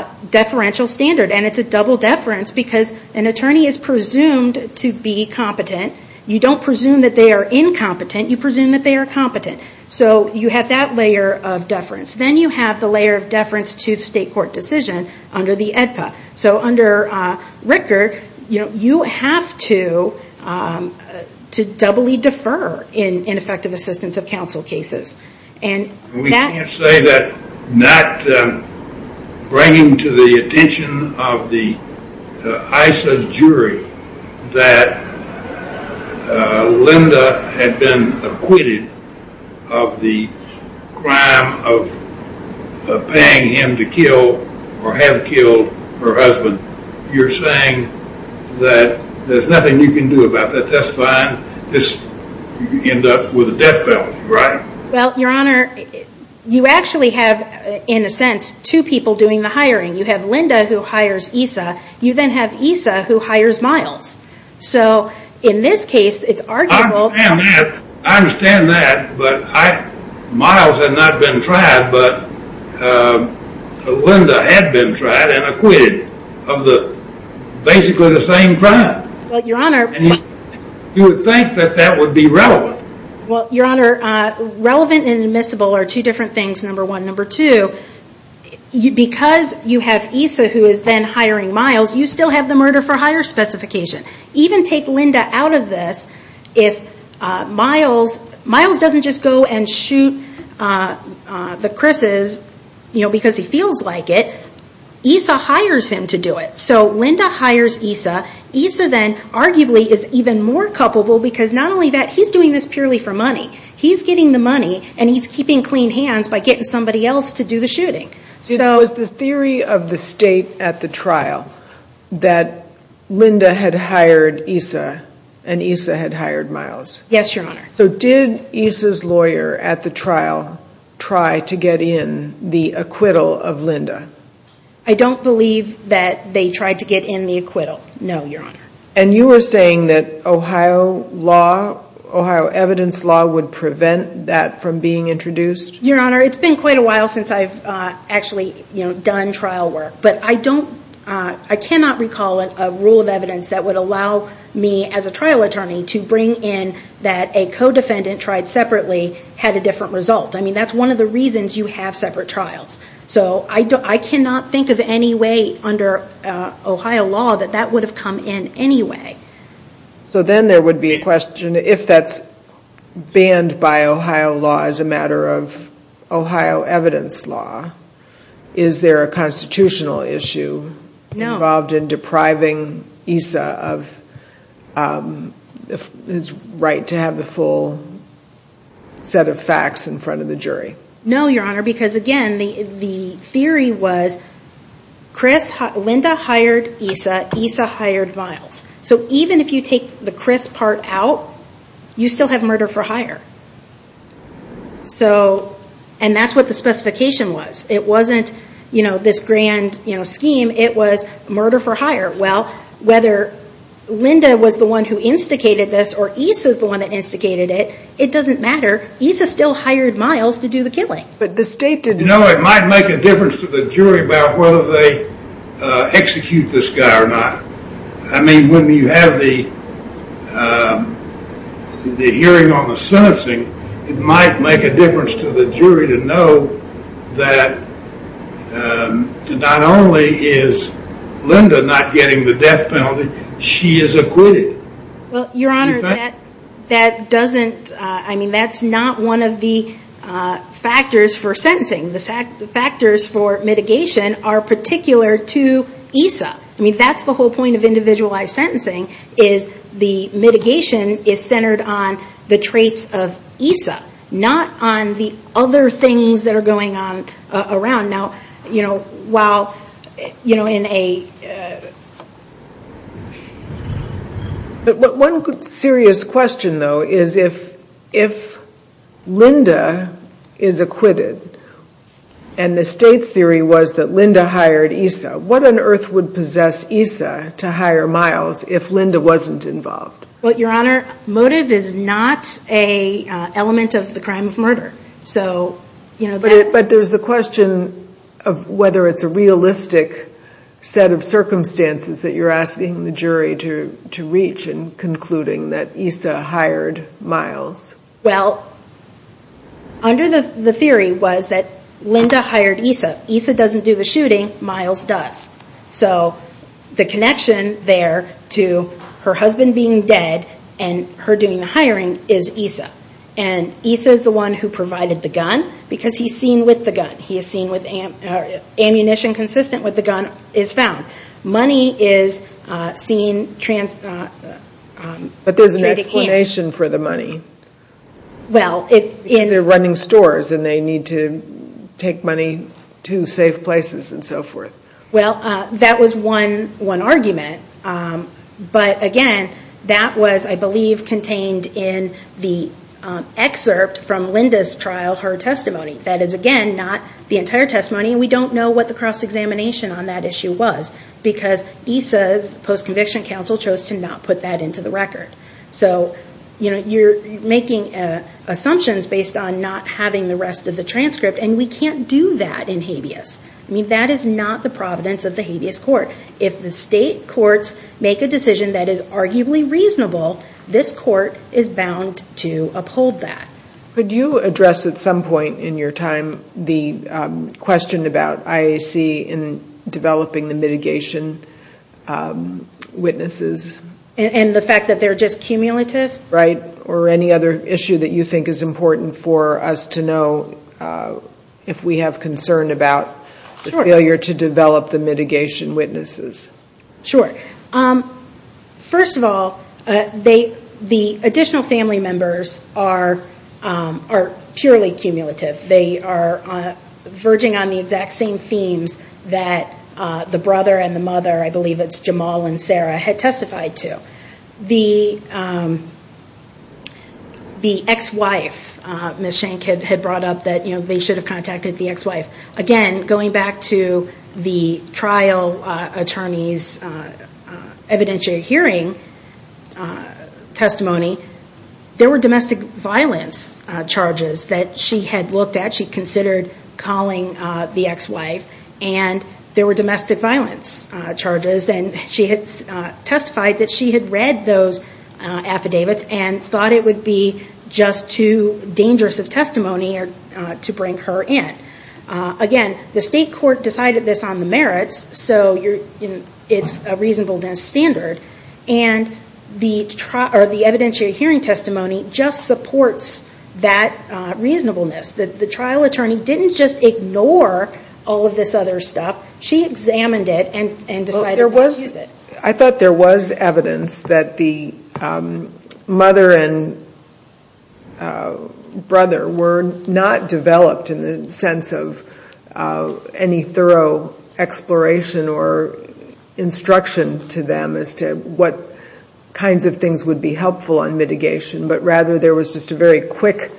AEDPA deferential standard. And it's a double deference because an attorney is presumed to be competent. You don't presume that they are incompetent. You presume that they are competent. So you have that layer of deference. Then you have the layer of deference to the state court decision under the AEDPA. So under Rickard, you have to doubly defer in ineffective assistance of counsel cases. We can't say that not bringing to the attention of the Eisa's jury that Linda had been acquitted of the crime of paying him to kill or have killed her husband. You're saying that there's nothing you can do about that. That's fine. You end up with a death penalty, right? Well, Your Honor, you actually have, in a sense, two people doing the hiring. You have Linda who hires Eisa. You then have Eisa who hires Miles. So in this case, it's arguable... I understand that, but Miles had not been tried, but Linda had been tried and acquitted of basically the same crime. Well, Your Honor... You would think that that would be relevant. Well, Your Honor, relevant and admissible are two different things, number one. Number two, because you have Eisa who is then hiring Miles, you still have the murder for hire specification. Even take Linda out of this. If Miles doesn't just go and shoot the Crisses because he feels like it, Eisa hires him to do it. So Linda hires Eisa. Eisa then arguably is even more culpable because not only that, he's doing this purely for money. He's getting the money, and he's keeping clean hands by getting somebody else to do the shooting. It was the theory of the State at the trial that Linda had hired Eisa and Eisa had hired Miles. Yes, Your Honor. So did Eisa's lawyer at the trial try to get in the acquittal of Linda? I don't believe that they tried to get in the acquittal. No, Your Honor. And you were saying that Ohio law, Ohio evidence law, would prevent that from being introduced? Your Honor, it's been quite a while since I've actually done trial work. But I cannot recall a rule of evidence that would allow me as a trial attorney to bring in that a co-defendant tried separately had a different result. I mean, that's one of the reasons you have separate trials. So I cannot think of any way under Ohio law that that would have come in anyway. So then there would be a question, if that's banned by Ohio law as a matter of Ohio evidence law, is there a constitutional issue involved in depriving Eisa of his right to have the full set of facts in front of the jury? No, Your Honor, because again, the theory was Linda hired Eisa, Eisa hired Miles. So even if you take the Chris part out, you still have murder for hire. And that's what the specification was. It wasn't this grand scheme. It was murder for hire. Well, whether Linda was the one who instigated this or Eisa is the one that instigated it, it doesn't matter. Eisa still hired Miles to do the killing. But the state didn't. You know, it might make a difference to the jury about whether they execute this guy or not. I mean, when you have the hearing on the sentencing, it might make a difference to the jury to know that not only is Linda not getting the death penalty, she is acquitted. Well, Your Honor, that doesn't, I mean, that's not one of the factors for sentencing. The factors for mitigation are particular to Eisa. I mean, that's the whole point of individualized sentencing is the mitigation is centered on the traits of Eisa, not on the other things that are going on around. But one serious question, though, is if Linda is acquitted and the state's theory was that Linda hired Eisa, what on earth would possess Eisa to hire Miles if Linda wasn't involved? Well, Your Honor, motive is not an element of the crime of murder. But there's the question of whether it's a realistic set of circumstances that you're asking the jury to reach in concluding that Eisa hired Miles. Well, under the theory was that Linda hired Eisa. Eisa doesn't do the shooting. Miles does. So the connection there to her husband being dead and her doing the hiring is Eisa. And Eisa is the one who provided the gun because he's seen with the gun. He is seen with ammunition consistent with the gun is found. Money is seen. But there's an explanation for the money. Well, they're running stores and they need to take money to safe places and so forth. Well, that was one argument. But, again, that was, I believe, contained in the excerpt from Linda's trial, her testimony. That is, again, not the entire testimony. And we don't know what the cross-examination on that issue was because Eisa's post-conviction counsel chose to not put that into the record. So, you know, you're making assumptions based on not having the rest of the transcript. And we can't do that in habeas. I mean, that is not the providence of the habeas court. If the state courts make a decision that is arguably reasonable, this court is bound to uphold that. Could you address at some point in your time the question about IAC in developing the mitigation witnesses? And the fact that they're just cumulative? Right. Or any other issue that you think is important for us to know if we have concern about the failure to develop the mitigation witnesses? Sure. First of all, the additional family members are purely cumulative. They are verging on the exact same themes that the brother and the mother, I believe it's Jamal and Sarah, had testified to. The ex-wife, Ms. Shank had brought up that they should have contacted the ex-wife. Again, going back to the trial attorney's evidentiary hearing testimony, there were domestic violence charges that she had looked at, she considered calling the ex-wife, and there were domestic violence charges. And she had testified that she had read those affidavits and thought it would be just too dangerous of testimony to bring her in. Again, the state court decided this on the merits, so it's a reasonableness standard. And the evidentiary hearing testimony just supports that reasonableness. The trial attorney didn't just ignore all of this other stuff. She examined it and decided not to use it. I thought there was evidence that the mother and brother were not developed in the sense of any thorough exploration or instruction to them as to what kinds of things would be helpful on mitigation, but rather there was just a very quick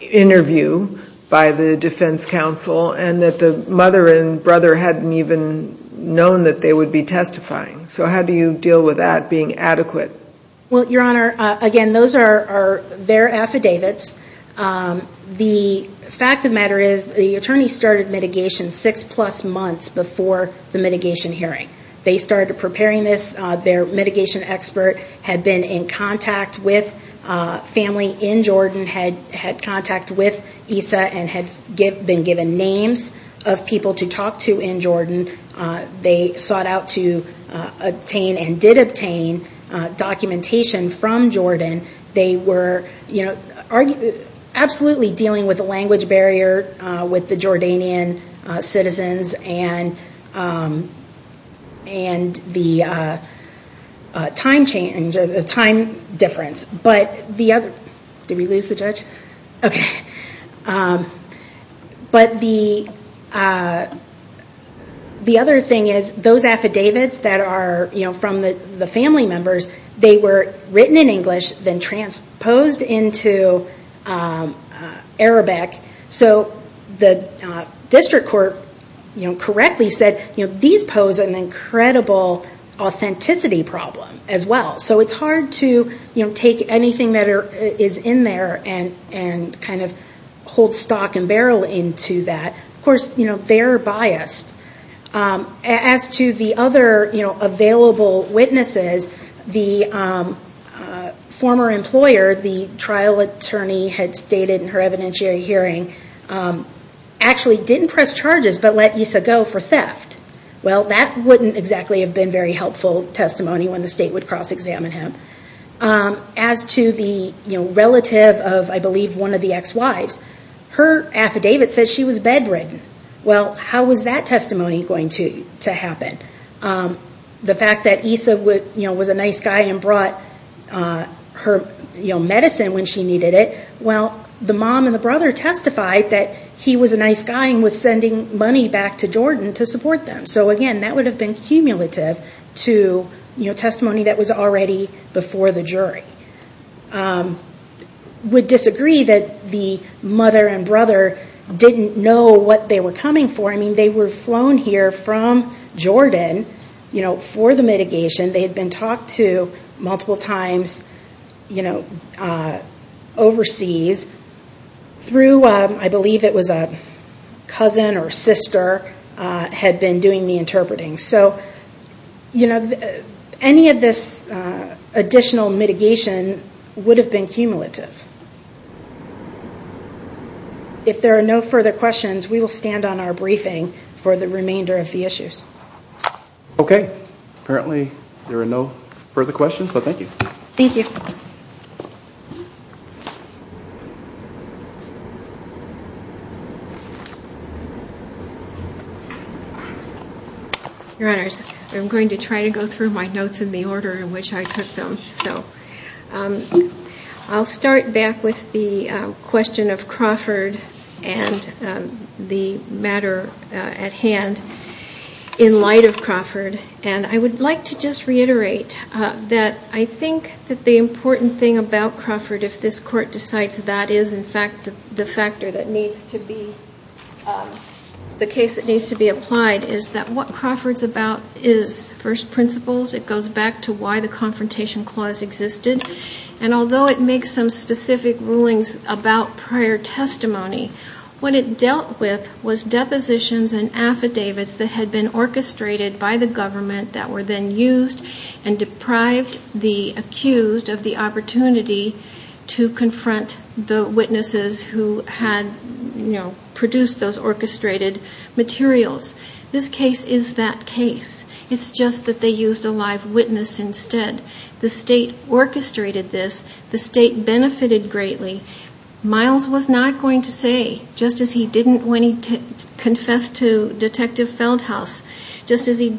interview by the defense counsel, and that the mother and brother hadn't even known that they would be testifying. So how do you deal with that being adequate? Well, Your Honor, again, those are their affidavits. The fact of the matter is the attorney started mitigation six-plus months before the mitigation hearing. They started preparing this. Their mitigation expert had been in contact with family in Jordan, had contact with ESA and had been given names of people to talk to in Jordan. They sought out to obtain and did obtain documentation from Jordan. They were absolutely dealing with a language barrier with the Jordanian citizens and the time difference. But the other thing is those affidavits that are from the family members, they were written in English, then transposed into Arabic. So the district court correctly said these pose an incredible authenticity problem as well. So it's hard to take anything that is in there and kind of hold stock and barrel into that. Of course, they're biased. As to the other available witnesses, the former employer, the trial attorney, had stated in her evidentiary hearing, actually didn't press charges but let ESA go for theft. Well, that wouldn't exactly have been very helpful testimony when the state would cross-examine him. As to the relative of, I believe, one of the ex-wives, her affidavit says she was bedridden. Well, how was that testimony going to happen? The fact that ESA was a nice guy and brought her medicine when she needed it, well, the mom and the brother testified that he was a nice guy and was sending money back to Jordan to support them. So again, that would have been cumulative to testimony that was already before the jury. I would disagree that the mother and brother didn't know what they were coming for. I mean, they were flown here from Jordan for the mitigation. They had been talked to multiple times overseas through, I believe it was a cousin or sister, had been doing the interpreting. Any of this additional mitigation would have been cumulative. If there are no further questions, we will stand on our briefing for the remainder of the issues. Okay. Apparently there are no further questions, so thank you. Thank you. Your Honors, I'm going to try to go through my notes in the order in which I took them. I'll start back with the question of Crawford and the matter at hand in light of Crawford. And I would like to just reiterate that I think that the important thing about Crawford, if this Court decides that is in fact the factor that needs to be, the case that needs to be applied, is that what Crawford's about is first principles. It goes back to why the Confrontation Clause existed. And although it makes some specific rulings about prior testimony, what it dealt with was depositions and affidavits that had been orchestrated by the government that were then used and deprived the accused of the opportunity to confront the witnesses who had produced those orchestrated materials. This case is that case. It's just that they used a live witness instead. The state orchestrated this. The state benefited greatly. Miles was not going to say, just as he didn't when he confessed to Detective Feldhaus, just as he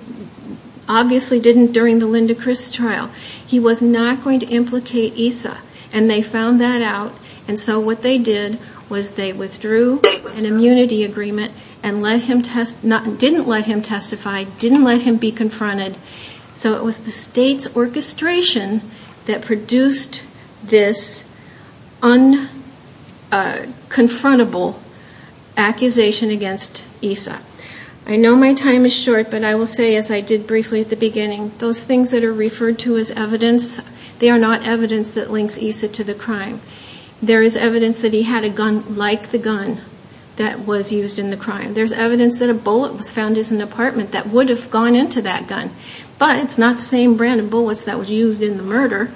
obviously didn't during the Linda Criss trial, he was not going to implicate ESA. And they found that out. And so what they did was they withdrew an immunity agreement and didn't let him testify, didn't let him be confronted. So it was the state's orchestration that produced this unconfrontable accusation against ESA. I know my time is short, but I will say, as I did briefly at the beginning, those things that are referred to as evidence, they are not evidence that links ESA to the crime. There is evidence that he had a gun like the gun that was used in the crime. There's evidence that a bullet was found in his apartment that would have gone into that gun. But it's not the same brand of bullets that was used in the murder.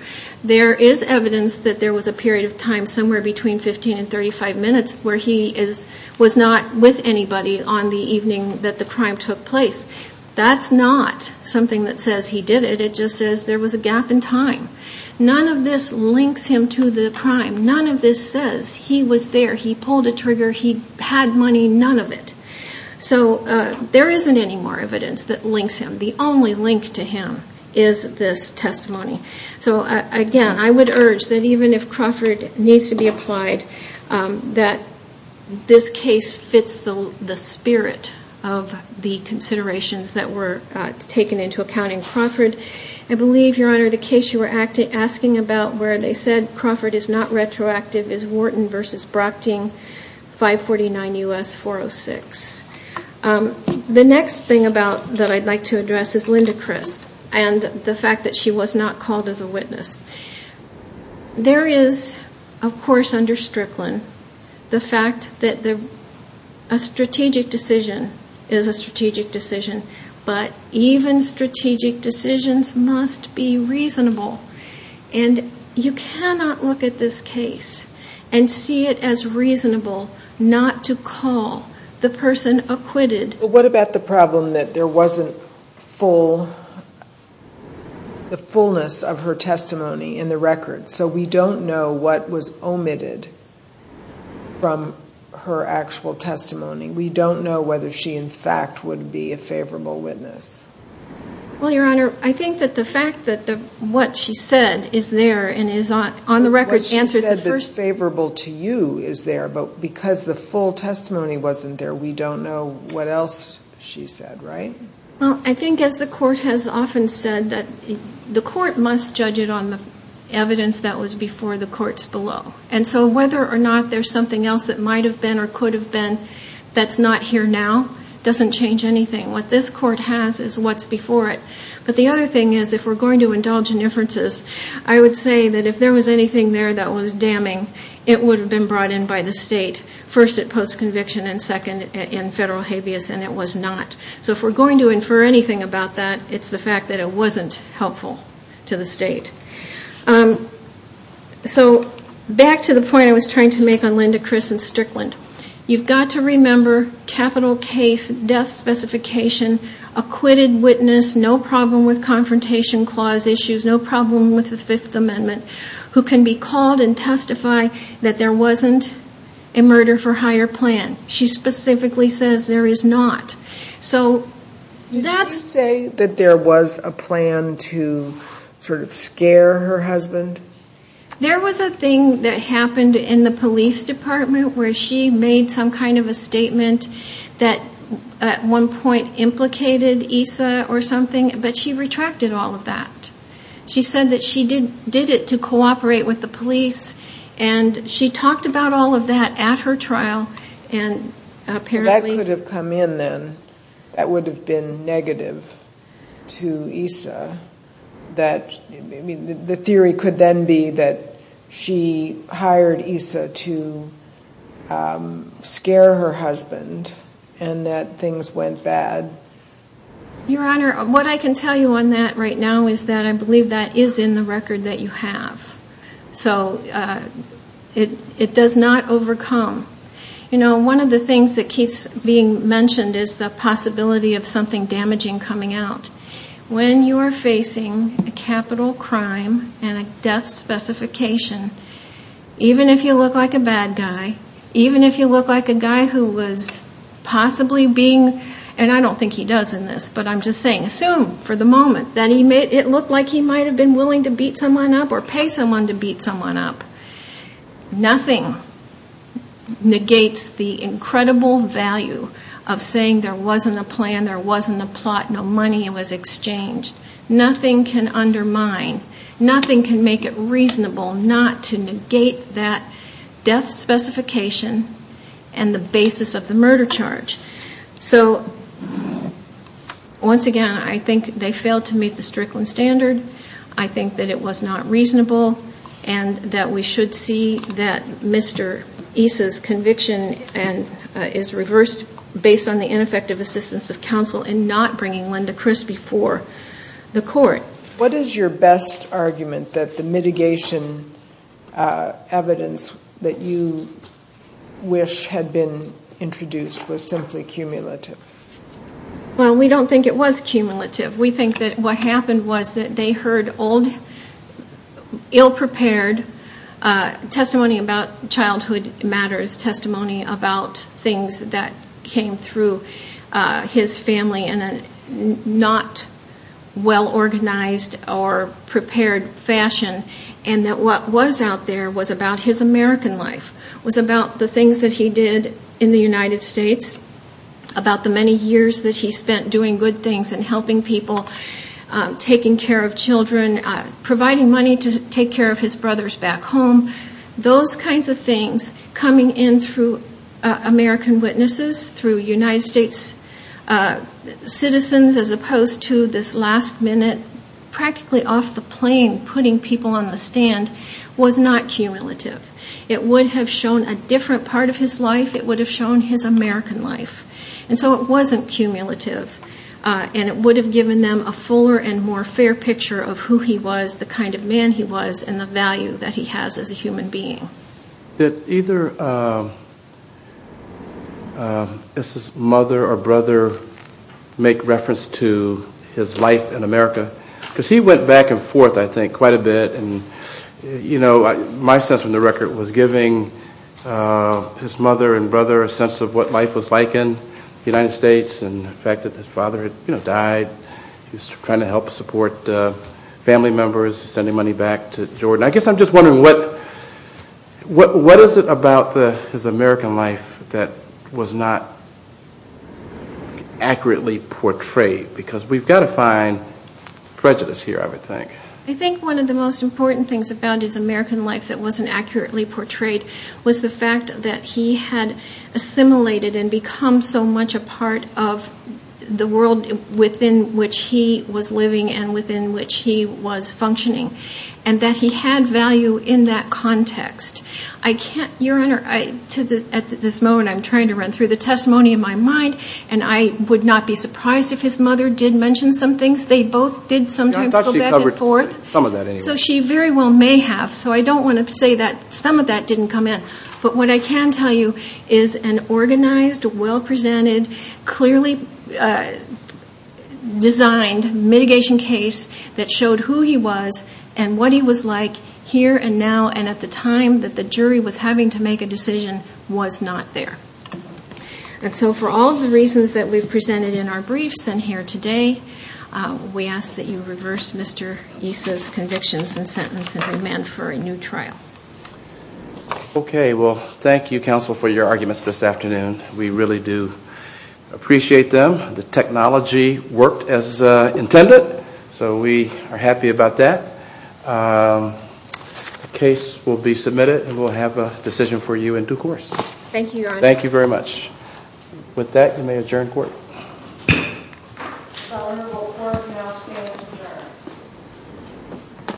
There is evidence that there was a period of time somewhere between 15 and 35 minutes where he was not with anybody on the evening that the crime took place. That's not something that says he did it. It just says there was a gap in time. None of this links him to the crime. None of this says he was there, he pulled a trigger, he had money, none of it. So there isn't any more evidence that links him. The only link to him is this testimony. So again, I would urge that even if Crawford needs to be applied, that this case fits the spirit of the considerations that were taken into account in Crawford. I believe, Your Honor, the case you were asking about where they said Crawford is not retroactive is Wharton v. Brockting, 549 U.S. 406. The next thing that I'd like to address is Linda Criss and the fact that she was not called as a witness. There is, of course, under Strickland, the fact that a strategic decision is a strategic decision, but even strategic decisions must be reasonable. And you cannot look at this case and see it as reasonable not to call the person acquitted. But what about the problem that there wasn't the fullness of her testimony in the record? So we don't know what was omitted from her actual testimony. We don't know whether she, in fact, would be a favorable witness. Well, Your Honor, I think that the fact that what she said is there and is on the record answers the first question. What she said that's favorable to you is there, but because the full testimony wasn't there, we don't know what else she said, right? Well, I think as the Court has often said, the Court must judge it on the evidence that was before the courts below. And so whether or not there's something else that might have been or could have been that's not here now doesn't change anything. What this Court has is what's before it. But the other thing is if we're going to indulge in differences, I would say that if there was anything there that was damning, it would have been brought in by the State, first at post-conviction and second in federal habeas, and it was not. So if we're going to infer anything about that, it's the fact that it wasn't helpful to the State. So back to the point I was trying to make on Linda, Chris, and Strickland. You've got to remember capital case death specification, acquitted witness, no problem with confrontation clause issues, no problem with the Fifth Amendment, who can be called and testify that there wasn't a murder for hire plan. She specifically says there is not. So that's... Did she say that there was a plan to sort of scare her husband? There was a thing that happened in the police department where she made some kind of a statement that at one point implicated ESA or something, but she retracted all of that. She said that she did it to cooperate with the police, and she talked about all of that at her trial, and apparently... That could have come in then. That would have been negative to ESA. The theory could then be that she hired ESA to scare her husband and that things went bad. Your Honor, what I can tell you on that right now is that I believe that is in the record that you have. So it does not overcome. You know, one of the things that keeps being mentioned is the possibility of something damaging coming out. When you are facing a capital crime and a death specification, even if you look like a bad guy, even if you look like a guy who was possibly being... And I don't think he does in this, but I'm just saying, assume for the moment that it looked like he might have been willing to beat someone up or pay someone to beat someone up. Nothing negates the incredible value of saying there wasn't a plan, there wasn't a plot, no money was exchanged. Nothing can undermine, nothing can make it reasonable not to negate that death specification and the basis of the murder charge. So once again, I think they failed to meet the Strickland standard. I think that it was not reasonable and that we should see that Mr. ESA's conviction is reversed based on the ineffective assistance of counsel in not bringing Linda Crispy before the court. What is your best argument that the mitigation evidence that you wish had been introduced was simply cumulative? Well, we don't think it was cumulative. We think that what happened was that they heard old, ill-prepared testimony about childhood matters, testimony about things that came through his family in a not well-organized or prepared fashion, and that what was out there was about his American life, was about the things that he did in the United States, about the many years that he spent doing good things and helping people, taking care of children, providing money to take care of his brothers back home. Those kinds of things coming in through American witnesses, through United States citizens, as opposed to this last minute, practically off the plane, putting people on the stand, was not cumulative. It would have shown a different part of his life. It would have shown his American life. And so it wasn't cumulative. And it would have given them a fuller and more fair picture of who he was, the kind of man he was, and the value that he has as a human being. Did either his mother or brother make reference to his life in America? Because he went back and forth, I think, quite a bit. And, you know, my sense from the record was giving his mother and brother a sense of what life was like in the United States and the fact that his father had, you know, died. He was trying to help support family members, sending money back to Jordan. I guess I'm just wondering, what is it about his American life that was not accurately portrayed? Because we've got to find prejudice here, I would think. I think one of the most important things about his American life that wasn't accurately portrayed was the fact that he had assimilated and become so much a part of the world within which he was living and within which he was functioning, and that he had value in that context. Your Honor, at this moment I'm trying to run through the testimony in my mind, and I would not be surprised if his mother did mention some things. They both did sometimes go back and forth. I thought she covered some of that anyway. So she very well may have. So I don't want to say that some of that didn't come in. But what I can tell you is an organized, well-presented, clearly designed mitigation case that showed who he was and what he was like here and now and at the time that the jury was having to make a decision was not there. And so for all the reasons that we've presented in our briefs and here today, we ask that you reverse Mr. East's convictions and sentence and demand for a new trial. Okay. Well, thank you, counsel, for your arguments this afternoon. We really do appreciate them. The technology worked as intended, so we are happy about that. The case will be submitted, and we'll have a decision for you in due course. Thank you, Your Honor. Thank you very much. With that, you may adjourn court. The honorable court now stands adjourned.